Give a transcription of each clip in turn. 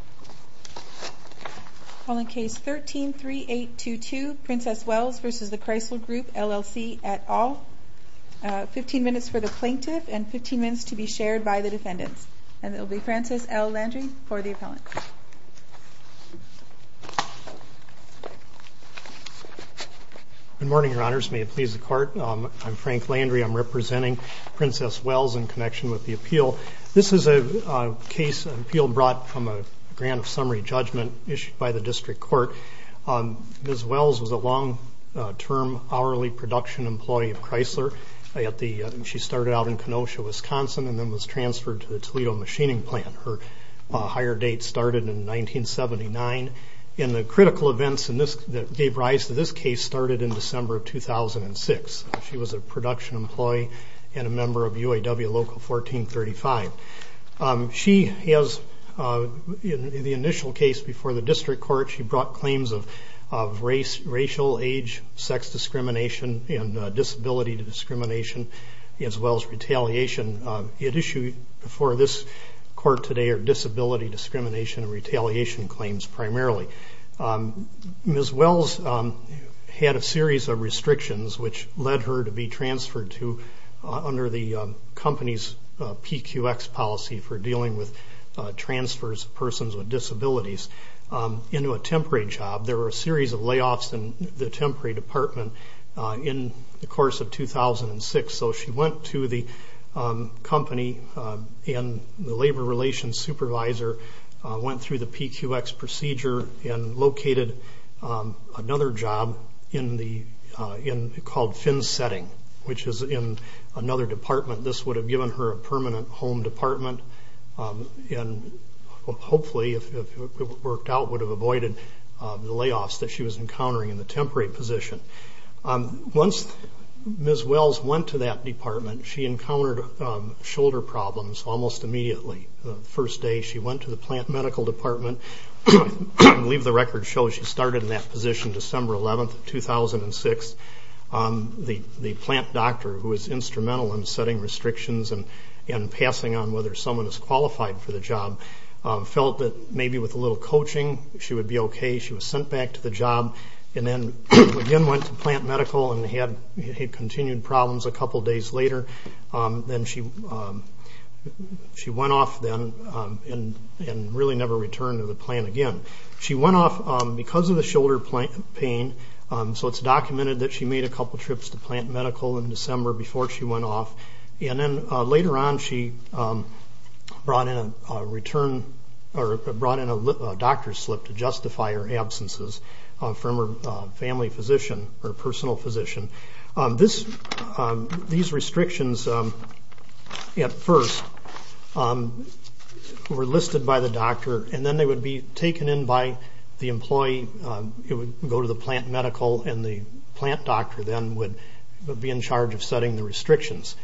at all. 15 minutes for the plaintiff and 15 minutes to be shared by the defendants. And it will be Francis L. Landry for the appellant. Good morning, your honors. May it please the court. I'm Frank Landry. I'm representing Princess Wells in connection with the appeal. This is a case appeal brought from a grant of summary judgment issued by the district court. Ms. Wells was a long-term hourly production employee of Chrysler. She started out in Kenosha, Wisconsin and then was transferred to the Toledo Machining Plant. Her hire date started in 1979. And the critical events that gave rise to this case started in December of 2006. She was a production employee and a member of UAW Local 1435. In the initial case before the district court, she brought claims of racial, age, sex discrimination, and disability discrimination as well as retaliation. The issues before this court today are disability discrimination and retaliation claims primarily. Ms. Wells had a series of restrictions which led her to be transferred under the company's PQX policy for dealing with transfers of persons with disabilities into a temporary job. There were a series of layoffs in the temporary department in the course of 2006. So she went to the company and the labor relations supervisor, went through the PQX procedure, and located another job called FinSetting, which is in another department. This would have given her a permanent home department and hopefully, if it worked out, would have avoided the layoffs that she was encountering in the temporary position. Once Ms. Wells went to that department, she encountered shoulder problems almost immediately. The first day she went to the plant medical department, I believe the record shows she started in that position December 11, 2006. The plant doctor, who was instrumental in setting restrictions and passing on whether someone was qualified for the job, felt that maybe with a little coaching she would be okay. She was sent back to the job and then again went to plant medical and had continued problems a couple days later. She went off then and really never returned to the plant again. She went off because of the shoulder pain, so it's documented that she made a couple trips to plant medical in December before she went off. Later on, she brought in a doctor's slip to justify her absences from her family physician or personal physician. These restrictions, at first, were listed by the doctor and then they would be taken in by the employee. It would go to the plant medical and the plant doctor then would be in charge of setting the restrictions.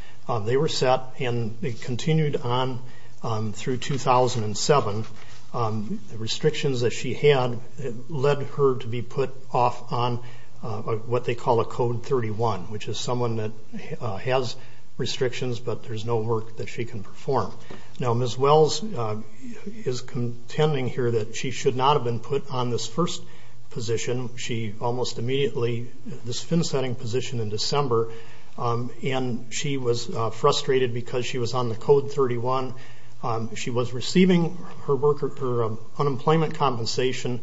They were set and continued on through 2007. The restrictions that she had led her to be put off on what they call a Code 31, which is someone that has restrictions but there's no work that she can perform. Ms. Wells is contending here that she should not have been put on this first position. She almost immediately, this fin-setting position in December, and she was frustrated because she was on the Code 31. She was receiving her unemployment compensation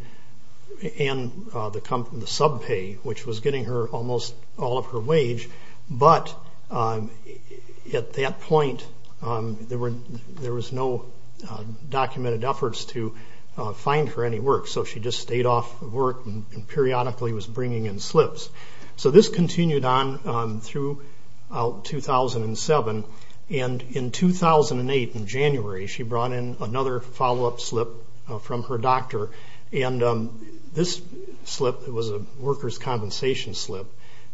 and the sub-pay, which was getting her almost all of her wage, but at that point there was no documented efforts to find her any work. So she just stayed off of work and periodically was bringing in slips. So this continued on through 2007 and in 2008, in January, she brought in another follow-up slip from her doctor. This slip was a worker's compensation slip,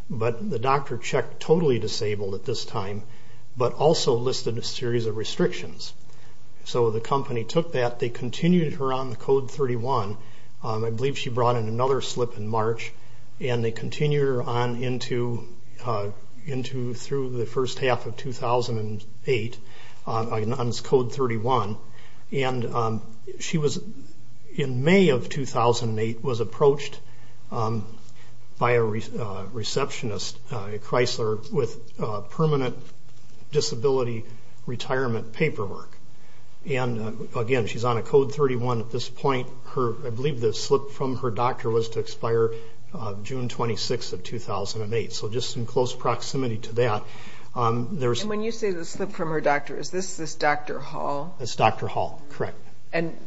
but the doctor checked totally disabled at this time, but also listed a series of restrictions. So the company took that. They continued her on the Code 31. I believe she brought in another slip in March, and they continued her on through the first half of 2008 on Code 31. She, in May of 2008, was approached by a receptionist at Chrysler with permanent disability retirement paperwork. Again, she's on a Code 31 at this point. I believe the slip from her doctor was to expire June 26 of 2008, so just in close proximity to that. When you say the slip from her doctor, is this Dr. Hall? It's Dr. Hall, correct. And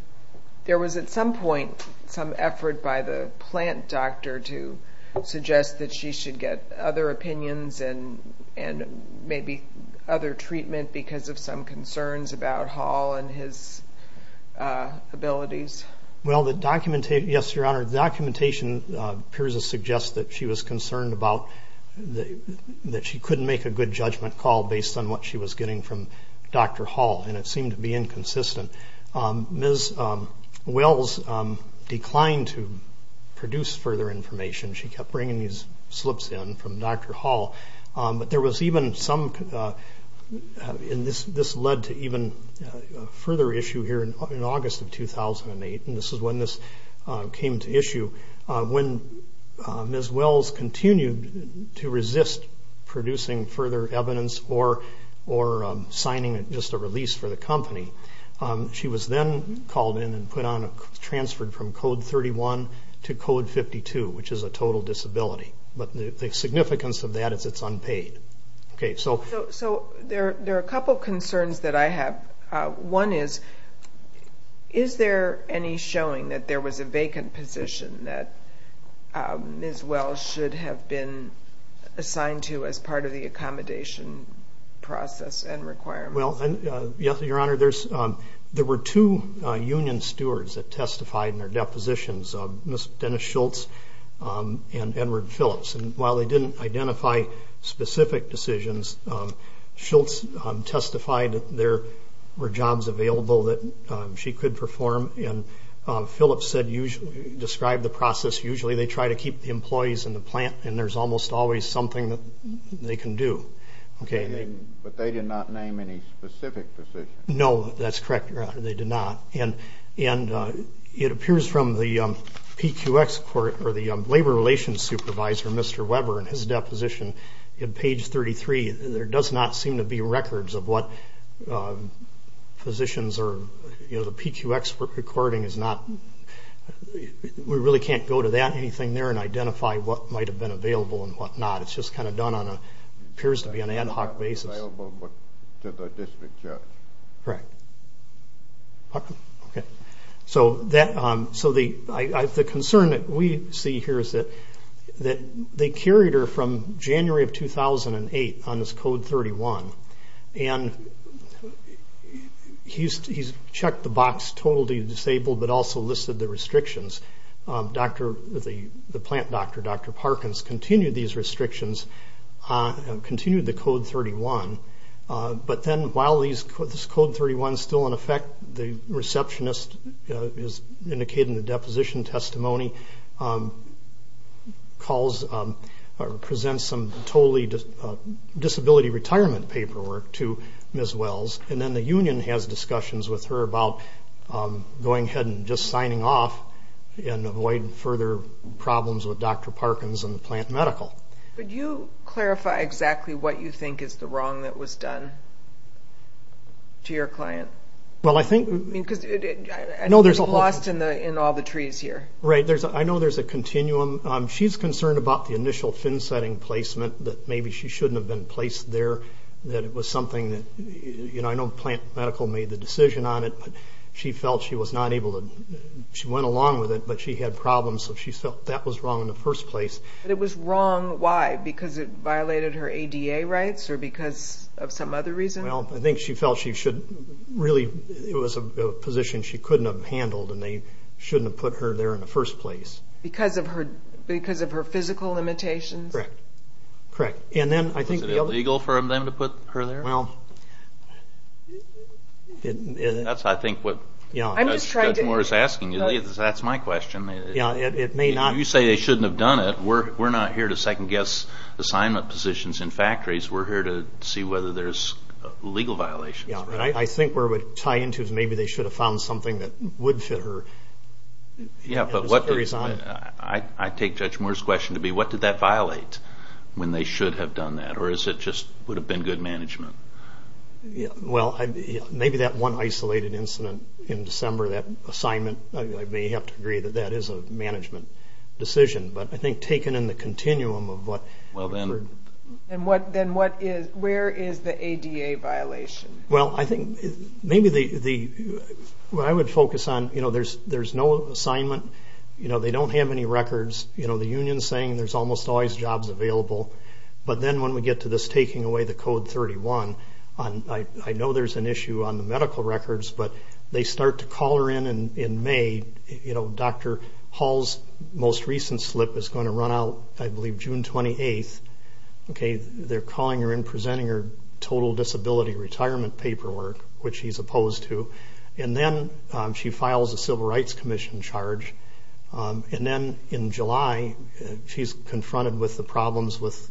there was at some point some effort by the plant doctor to suggest that she should get other opinions and maybe other treatment because of some concerns about Hall and his abilities? Well, the documentation, yes, Your Honor, the documentation appears to suggest that she was concerned about that she couldn't make a good judgment call based on what she was getting from Dr. Hall, and it seemed to be inconsistent. Ms. Wells declined to produce further information. She kept bringing these slips in from Dr. Hall. But there was even some, and this led to even further issue here in August of 2008, and this is when this came to issue. When Ms. Wells continued to resist producing further evidence or signing just a release for the company, she was then called in and transferred from Code 31 to Code 52, which is a total disability. But the significance of that is it's unpaid. So there are a couple concerns that I have. One is, is there any showing that there was a vacant position that Ms. Wells should have been assigned to as part of the accommodation process and requirements? Well, yes, Your Honor, there were two union stewards that testified in their depositions, Ms. Dennis Schultz and Edward Phillips, and while they didn't identify specific decisions, Ms. Schultz testified that there were jobs available that she could perform, and Phillips described the process. Usually they try to keep the employees in the plant, and there's almost always something that they can do. But they did not name any specific positions. No, that's correct, Your Honor, they did not. And it appears from the PQX report, or the Labor Relations Supervisor, Mr. Weber, in his deposition in page 33, there does not seem to be records of what positions are, you know, the PQX recording is not, we really can't go to that, anything there, and identify what might have been available and what not. It's just kind of done on a, appears to be an ad hoc basis. It's not available to the district judge. Correct. So the concern that we see here is that they carried her from January of 2008 on this Code 31, and he's checked the box, totally disabled, but also listed the restrictions. The plant doctor, Dr. Parkins, continued these restrictions, continued the Code 31, but then while this Code 31 is still in effect, the receptionist is indicating the deposition testimony, presents some totally disability retirement paperwork to Ms. Wells, and then the union has discussions with her about going ahead and just signing off and avoiding further problems with Dr. Parkins and the plant medical. Could you clarify exactly what you think is the wrong that was done to your client? Well, I think... Because it was lost in all the trees here. Right, I know there's a continuum. She's concerned about the initial fin-setting placement, that maybe she shouldn't have been placed there, that it was something that, you know, I know plant medical made the decision on it, but she felt she was not able to, she went along with it, but she had problems, so she felt that was wrong in the first place. But it was wrong, why? Because it violated her ADA rights or because of some other reason? Well, I think she felt she should really, it was a position she couldn't have handled, and they shouldn't have put her there in the first place. Because of her physical limitations? Correct, correct. Was it illegal for them to put her there? Well... That's, I think, what Judge Moore is asking you. That's my question. Yeah, it may not... You say they shouldn't have done it. We're not here to second-guess assignment positions in factories. We're here to see whether there's legal violations. Yeah, but I think where it would tie into is maybe they should have found something that would fit her. Yeah, but I take Judge Moore's question to be, what did that violate when they should have done that? Or is it just would have been good management? Well, maybe that one isolated incident in December, that assignment, I may have to agree that that is a management decision. But I think taken in the continuum of what... Well, then... Then where is the ADA violation? Well, I think maybe the... What I would focus on, there's no assignment. They don't have any records. The union's saying there's almost always jobs available. But then when we get to this taking away the Code 31, I know there's an issue on the medical records, but they start to call her in in May. Dr. Hall's most recent slip is going to run out, I believe, June 28th. They're calling her in, presenting her total disability retirement paperwork, which she's opposed to. And then she files a Civil Rights Commission charge. And then in July, she's confronted with the problems with...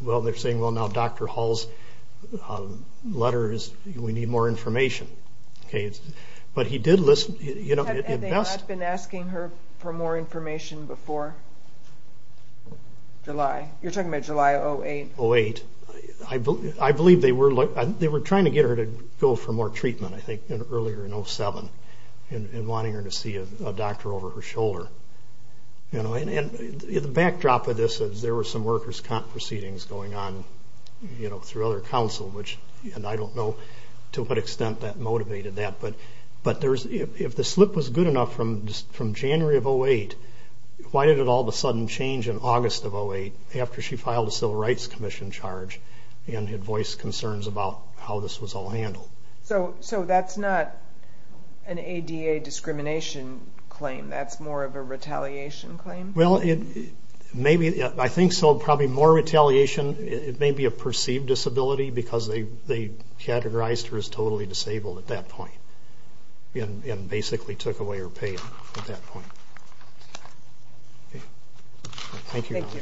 Well, they're saying, well, now Dr. Hall's letter is... We need more information. But he did list... Have they not been asking her for more information before July? You're talking about July 08? 08. I believe they were trying to get her to go for more treatment, I think, earlier in 07 and wanting her to see a doctor over her shoulder. And the backdrop of this is there were some workers' comp proceedings going on through other counsel, which I don't know to what extent that motivated that. But if the slip was good enough from January of 08, why did it all of a sudden change in August of 08 after she filed a Civil Rights Commission charge and had voiced concerns about how this was all handled? So that's not an ADA discrimination claim. That's more of a retaliation claim? Well, maybe. I think so, probably more retaliation. It may be a perceived disability because they categorized her as totally disabled at that point and basically took away her pay at that point. Thank you. Thank you.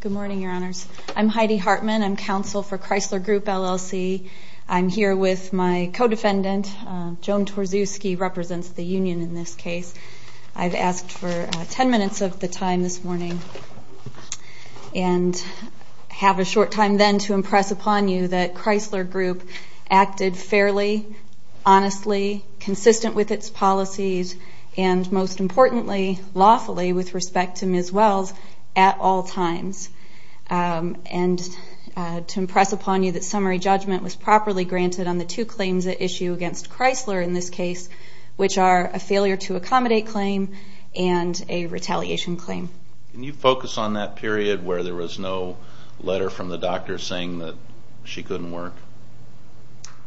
Good morning, Your Honors. I'm Heidi Hartman. I'm counsel for Chrysler Group, LLC. I'm here with my co-defendant. Joan Torczewski represents the union in this case. I've asked for 10 minutes of the time this morning and have a short time then to impress upon you that Chrysler Group acted fairly, honestly, consistent with its policies, and most importantly, lawfully with respect to Ms. Wells at all times, and to impress upon you that summary judgment was properly granted on the two claims at issue against Chrysler in this case, which are a failure to accommodate claim and a retaliation claim. Can you focus on that period where there was no letter from the doctor saying that she couldn't work?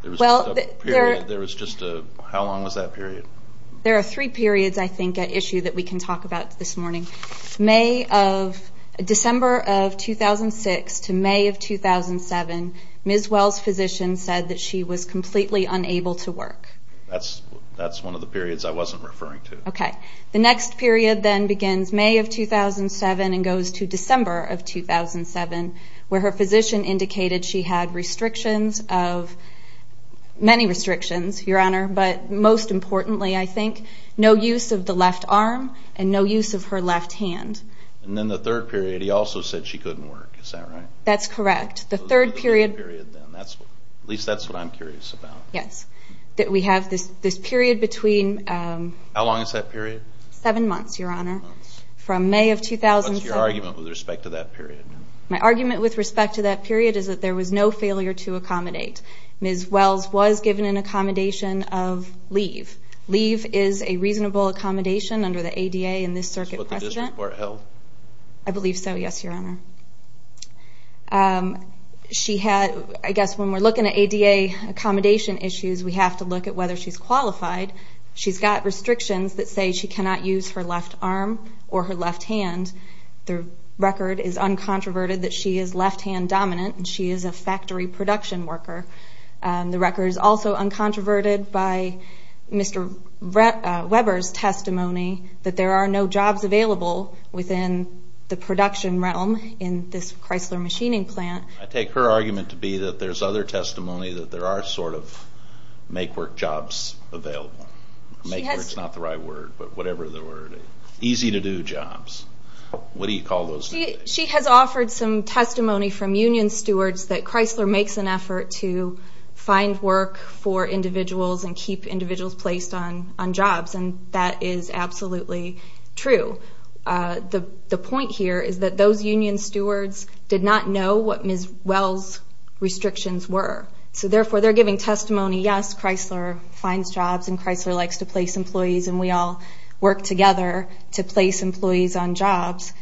There was just a period. How long was that period? There are three periods, I think, at issue that we can talk about this morning. May of December of 2006 to May of 2007, Ms. Wells' physician said that she was completely unable to work. That's one of the periods I wasn't referring to. Okay. The next period then begins May of 2007 and goes to December of 2007, where her physician indicated she had restrictions of many restrictions, Your Honor, but most importantly, I think, no use of the left arm and no use of her left hand. And then the third period, he also said she couldn't work. Is that right? That's correct. The third period. At least that's what I'm curious about. Yes. We have this period between... How long is that period? Seven months, Your Honor, from May of 2007. What's your argument with respect to that period? My argument with respect to that period is that there was no failure to accommodate. Ms. Wells was given an accommodation of leave. Leave is a reasonable accommodation under the ADA in this circuit precedent. Is that what the district court held? I believe so, yes, Your Honor. I guess when we're looking at ADA accommodation issues, we have to look at whether she's qualified. She's got restrictions that say she cannot use her left arm or her left hand. The record is uncontroverted that she is left-hand dominant, and she is a factory production worker. The record is also uncontroverted by Mr. Weber's testimony that there are no jobs available within the production realm in this Chrysler machining plant. I take her argument to be that there's other testimony that there are sort of make-work jobs available. Make-work is not the right word, but whatever the word is. Easy-to-do jobs. What do you call those? She has offered some testimony from union stewards that Chrysler makes an effort to find work for individuals and keep individuals placed on jobs, and that is absolutely true. The point here is that those union stewards did not know what Ms. Wells' restrictions were, so therefore they're giving testimony, yes, Chrysler finds jobs and Chrysler likes to place employees, and we all work together to place employees on jobs.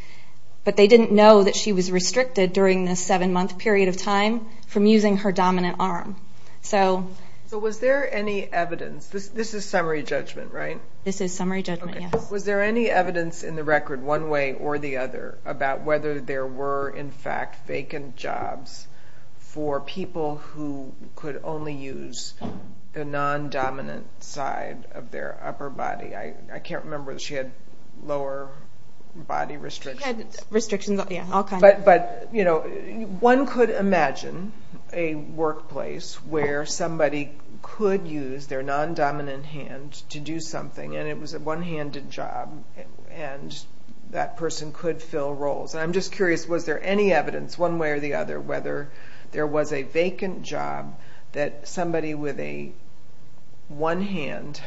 But they didn't know that she was restricted during this seven-month period of time from using her dominant arm. So was there any evidence? This is summary judgment, right? This is summary judgment, yes. Was there any evidence in the record one way or the other about whether there were in fact vacant jobs for people who could only use the non-dominant side of their upper body? I can't remember that she had lower body restrictions. She had restrictions of all kinds. But one could imagine a workplace where somebody could use their non-dominant hand to do something, and it was a one-handed job, and that person could fill roles. I'm just curious, was there any evidence one way or the other whether there was a vacant job that somebody with a one hand,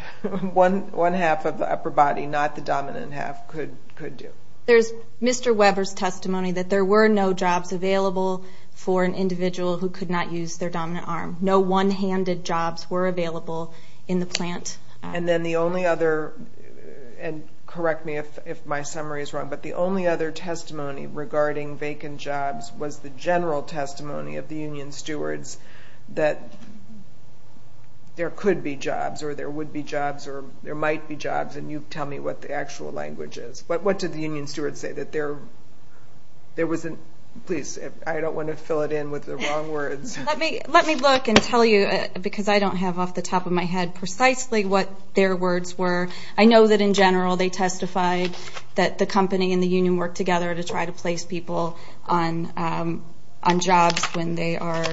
one half of the upper body, not the dominant half, could do? There's Mr. Weber's testimony that there were no jobs available for an individual who could not use their dominant arm. No one-handed jobs were available in the plant. And then the only other, and correct me if my summary is wrong, but the only other testimony regarding vacant jobs was the general testimony of the union stewards that there could be jobs, or there would be jobs, or there might be jobs, and you tell me what the actual language is. What did the union stewards say? That there wasn't, please, I don't want to fill it in with the wrong words. Let me look and tell you, because I don't have off the top of my head precisely what their words were. I know that in general they testified that the company and the union worked together to try to place people on jobs when they are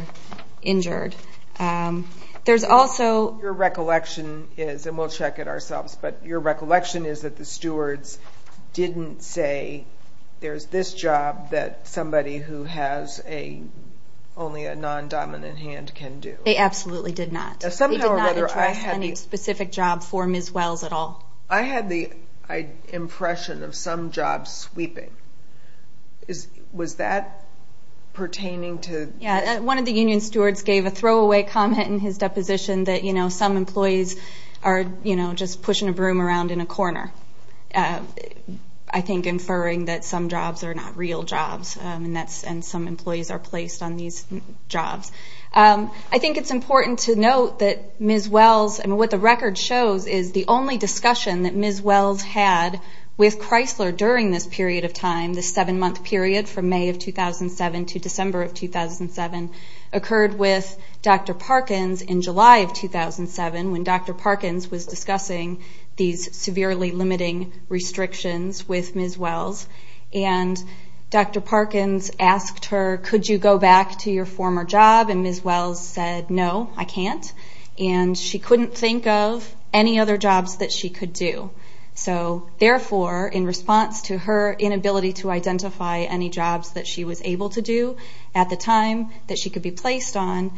injured. There's also- Your recollection is, and we'll check it ourselves, but your recollection is that the stewards didn't say there's this job that somebody who has only a non-dominant hand can do. They absolutely did not. They did not address any specific job for Ms. Wells at all. I had the impression of some jobs sweeping. Was that pertaining to- One of the union stewards gave a throwaway comment in his deposition that some employees are just pushing a broom around in a corner, I think inferring that some jobs are not real jobs, and some employees are placed on these jobs. I think it's important to note that Ms. Wells, and what the record shows, is the only discussion that Ms. Wells had with Chrysler during this period of time, this seven-month period from May of 2007 to December of 2007, occurred with Dr. Parkins in July of 2007, when Dr. Parkins was discussing these severely limiting restrictions with Ms. Wells. Dr. Parkins asked her, could you go back to your former job? Ms. Wells said, no, I can't. She couldn't think of any other jobs that she could do. Therefore, in response to her inability to identify any jobs that she was able to do at the time that she could be placed on,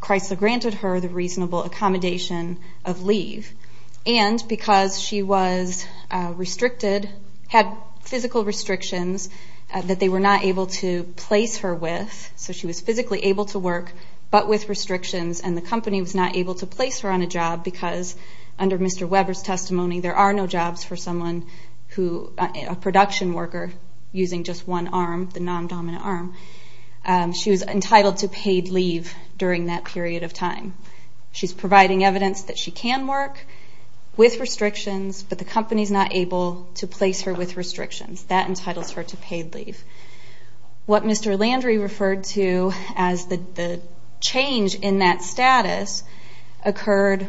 Chrysler granted her the reasonable accommodation of leave. And because she was restricted, had physical restrictions, that they were not able to place her with, so she was physically able to work, but with restrictions, and the company was not able to place her on a job because under Mr. Weber's testimony, there are no jobs for someone who, a production worker using just one arm, the non-dominant arm, she's providing evidence that she can work with restrictions, but the company's not able to place her with restrictions. That entitles her to paid leave. What Mr. Landry referred to as the change in that status occurred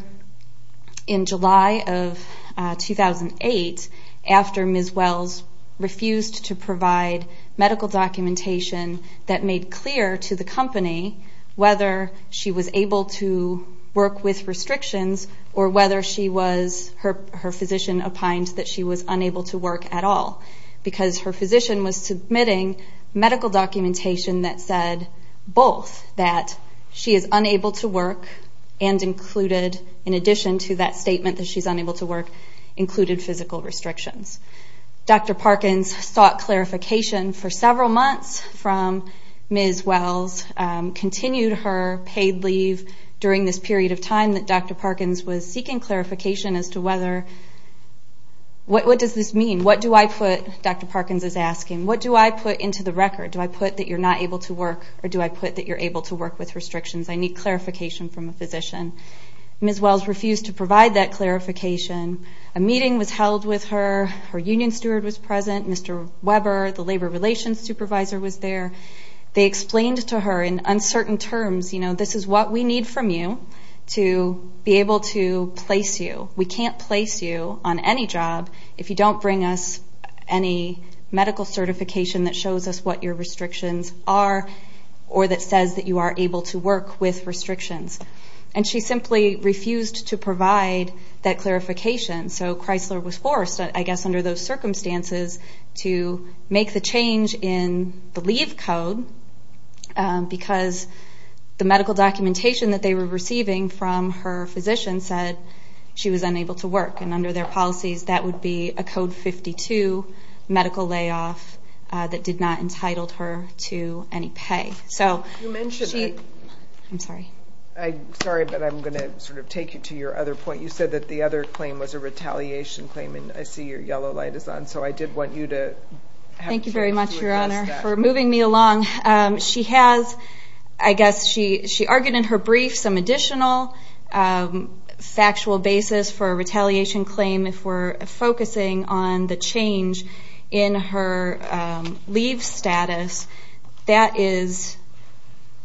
in July of 2008, after Ms. Wells refused to provide medical documentation that made clear to the company whether she was able to work with restrictions or whether her physician opined that she was unable to work at all, because her physician was submitting medical documentation that said both, that she is unable to work and included, in addition to that statement that she's unable to work, included physical restrictions. Dr. Parkins sought clarification for several months from Ms. Wells, continued her paid leave during this period of time that Dr. Parkins was seeking clarification as to whether, what does this mean? What do I put, Dr. Parkins is asking, what do I put into the record? Do I put that you're not able to work or do I put that you're able to work with restrictions? I need clarification from a physician. Ms. Wells refused to provide that clarification. A meeting was held with her, her union steward was present, Mr. Weber, the labor relations supervisor was there. They explained to her in uncertain terms, you know, this is what we need from you to be able to place you. We can't place you on any job if you don't bring us any medical certification that shows us what your restrictions are or that says that you are able to work with restrictions. And she simply refused to provide that clarification. So Chrysler was forced, I guess under those circumstances, to make the change in the leave code because the medical documentation that they were receiving from her physician said she was unable to work. And under their policies, that would be a Code 52 medical layoff that did not entitle her to any pay. You mentioned that. I'm sorry. Sorry, but I'm going to sort of take you to your other point. You said that the other claim was a retaliation claim, and I see your yellow light is on. So I did want you to have a chance to address that. Thank you very much, Your Honor, for moving me along. She has, I guess she argued in her brief, some additional factual basis for a retaliation claim if we're focusing on the change in her leave status. That is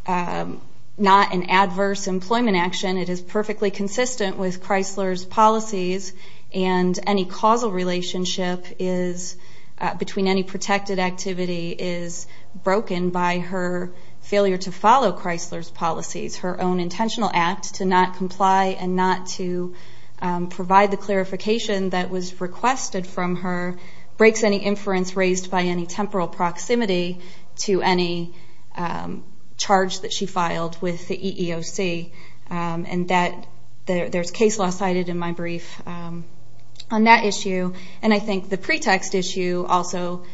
not an adverse employment action. It is perfectly consistent with Chrysler's policies, and any causal relationship between any protected activity is broken by her failure to follow Chrysler's policies. Her own intentional act to not comply and not to provide the clarification that was requested from her breaks any inference raised by any temporal proximity to any charge that she filed with the EEOC. There's case law cited in my brief on that issue, and I think the pretext issue also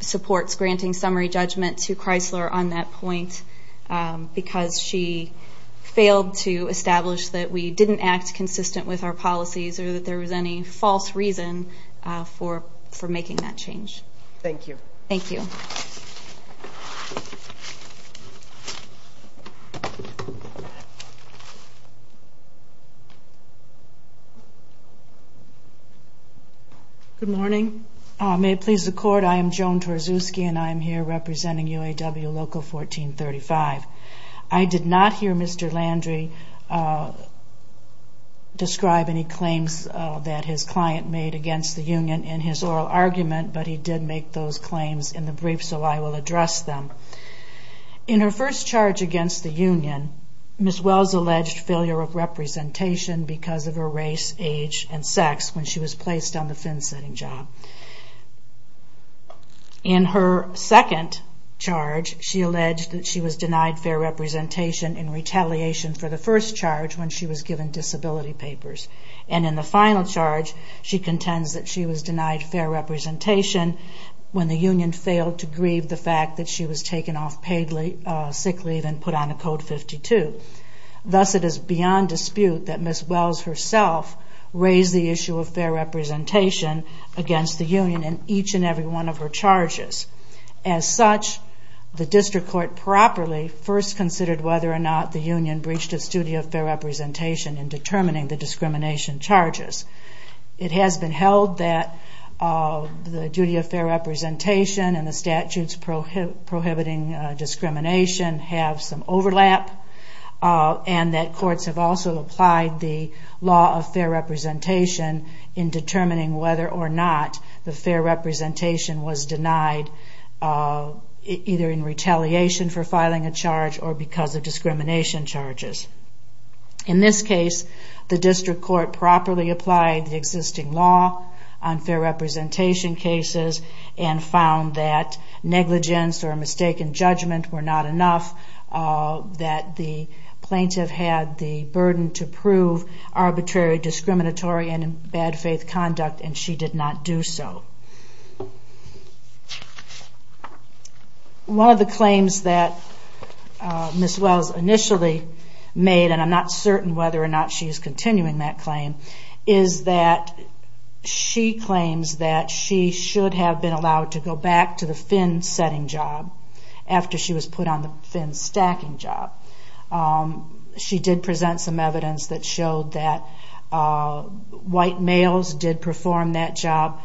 supports granting summary judgment to Chrysler on that point because she failed to establish that we didn't act consistent with our policies or that there was any false reason for making that change. Thank you. Thank you. Joan Torczewski Good morning. May it please the Court, I am Joan Torczewski, and I am here representing UAW Local 1435. I did not hear Mr. Landry describe any claims that his client made against the union in his oral argument, but he did make those claims in the brief, so I will address them. In her first charge against the union, Ms. Wells alleged failure of representation because of her race, age, and sex when she was placed on the finsetting job. In her second charge, she alleged that she was denied fair representation in retaliation for the first charge when she was given disability papers. And in the final charge, she contends that she was denied fair representation when the union failed to grieve the fact that she was taken off sick leave and put on a Code 52. Thus, it is beyond dispute that Ms. Wells herself raised the issue of fair representation against the union in each and every one of her charges. As such, the district court properly first considered whether or not the union breached its duty of fair representation in determining the discrimination charges. It has been held that the duty of fair representation and the statutes prohibiting discrimination have some overlap and that courts have also applied the law of fair representation in determining whether or not the fair representation was denied either in retaliation for filing a charge or because of discrimination charges. In this case, the district court properly applied the existing law on fair representation cases and found that negligence or mistaken judgment were not enough, that the plaintiff had the burden to prove arbitrary, discriminatory, and in bad faith conduct and she did not do so. One of the claims that Ms. Wells initially made, and I'm not certain whether or not she's continuing that claim, is that she claims that she should have been allowed to go back to the fin-setting job after she was put on the fin-stacking job. She did present some evidence that showed that white males did perform that job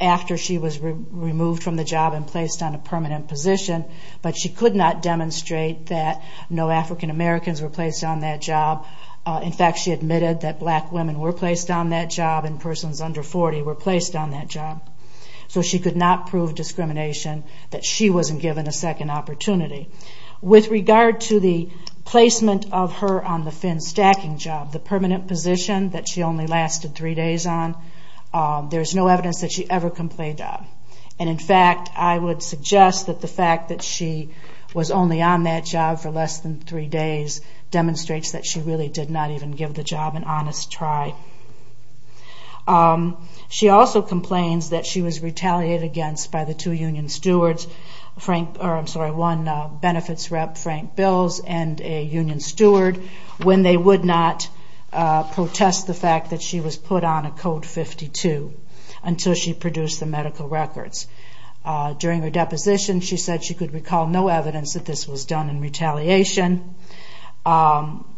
after she was removed from the job and placed on a permanent position, but she could not demonstrate that no African Americans were placed on that job. In fact, she admitted that black women were placed on that job and persons under 40 were placed on that job. So she could not prove discrimination, that she wasn't given a second opportunity. With regard to the placement of her on the fin-stacking job, the permanent position that she only lasted three days on, there's no evidence that she ever complained of. And in fact, I would suggest that the fact that she was only on that job for less than three days demonstrates that she really did not even give the job an honest try. She also complains that she was retaliated against by the two union stewards, one benefits rep, Frank Bills, and a union steward, when they would not protest the fact that she was put on a Code 52 until she produced the medical records. During her deposition, she said she could recall no evidence that this was done in retaliation.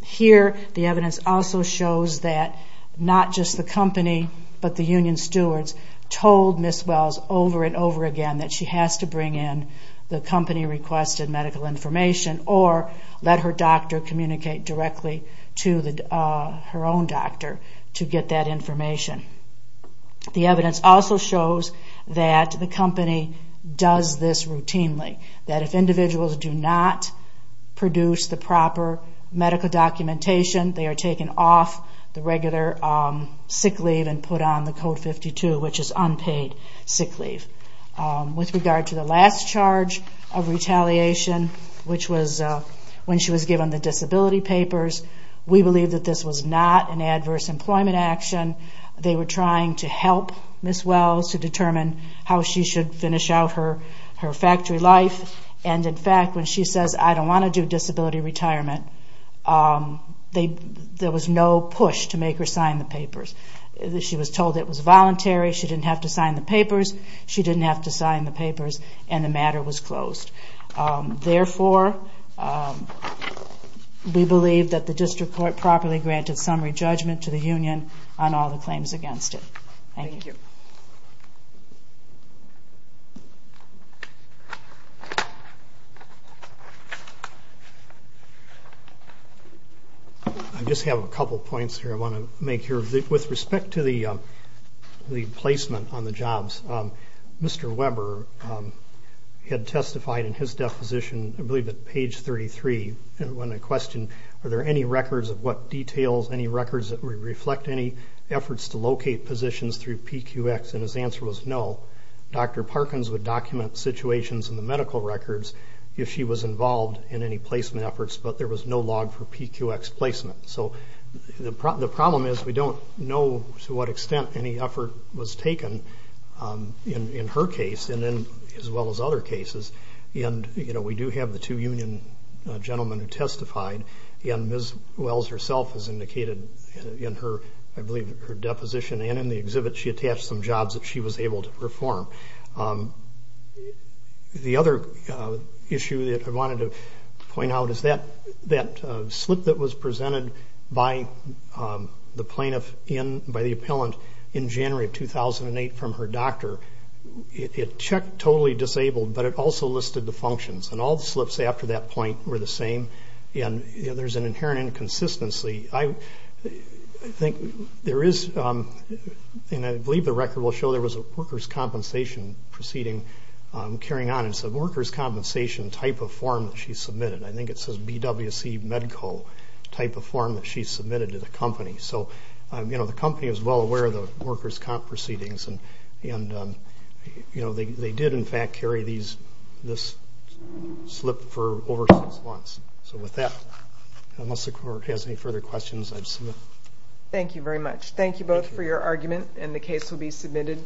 Here, the evidence also shows that not just the company, but the union stewards told Ms. Wells over and over again that she has to bring in the company-requested medical information or let her doctor communicate directly to her own doctor to get that information. The evidence also shows that the company does this routinely, that if individuals do not produce the proper medical documentation, they are taken off the regular sick leave and put on the Code 52, which is unpaid sick leave. With regard to the last charge of retaliation, which was when she was given the disability papers, we believe that this was not an adverse employment action. They were trying to help Ms. Wells to determine how she should finish out her factory life, and in fact, when she says, I don't want to do disability retirement, there was no push to make her sign the papers. She was told it was voluntary, she didn't have to sign the papers, she didn't have to sign the papers, and the matter was closed. Therefore, we believe that the district court properly granted summary judgment to the union on all the claims against it. I just have a couple points here I want to make here. With respect to the placement on the jobs, Mr. Weber had testified in his deposition, I believe at page 33, when I questioned, are there any records of what details, any records that reflect any efforts to locate positions through PQX, and his answer was no. Dr. Parkins would document situations in the medical records if she was involved in any placement efforts, but there was no log for PQX placement. The problem is we don't know to what extent any effort was taken in her case, as well as other cases, and we do have the two union gentlemen who testified, and Ms. Wells herself has indicated in her deposition and in the exhibit she attached some jobs that she was able to perform. The other issue that I wanted to point out is that slip that was presented by the plaintiff, by the appellant, in January of 2008 from her doctor, it checked totally disabled, but it also listed the functions, and all the slips after that point were the same, and there's an inherent inconsistency. I think there is, and I believe the record will show, there was a workers' compensation proceeding carrying on, and it's a workers' compensation type of form that she submitted. I think it says BWC Medco type of form that she submitted to the company, so the company was well aware of the workers' comp proceedings, and they did, in fact, carry this slip for over six months. So with that, unless the court has any further questions, I submit. Thank you very much. Thank you both for your argument, and the case will be submitted.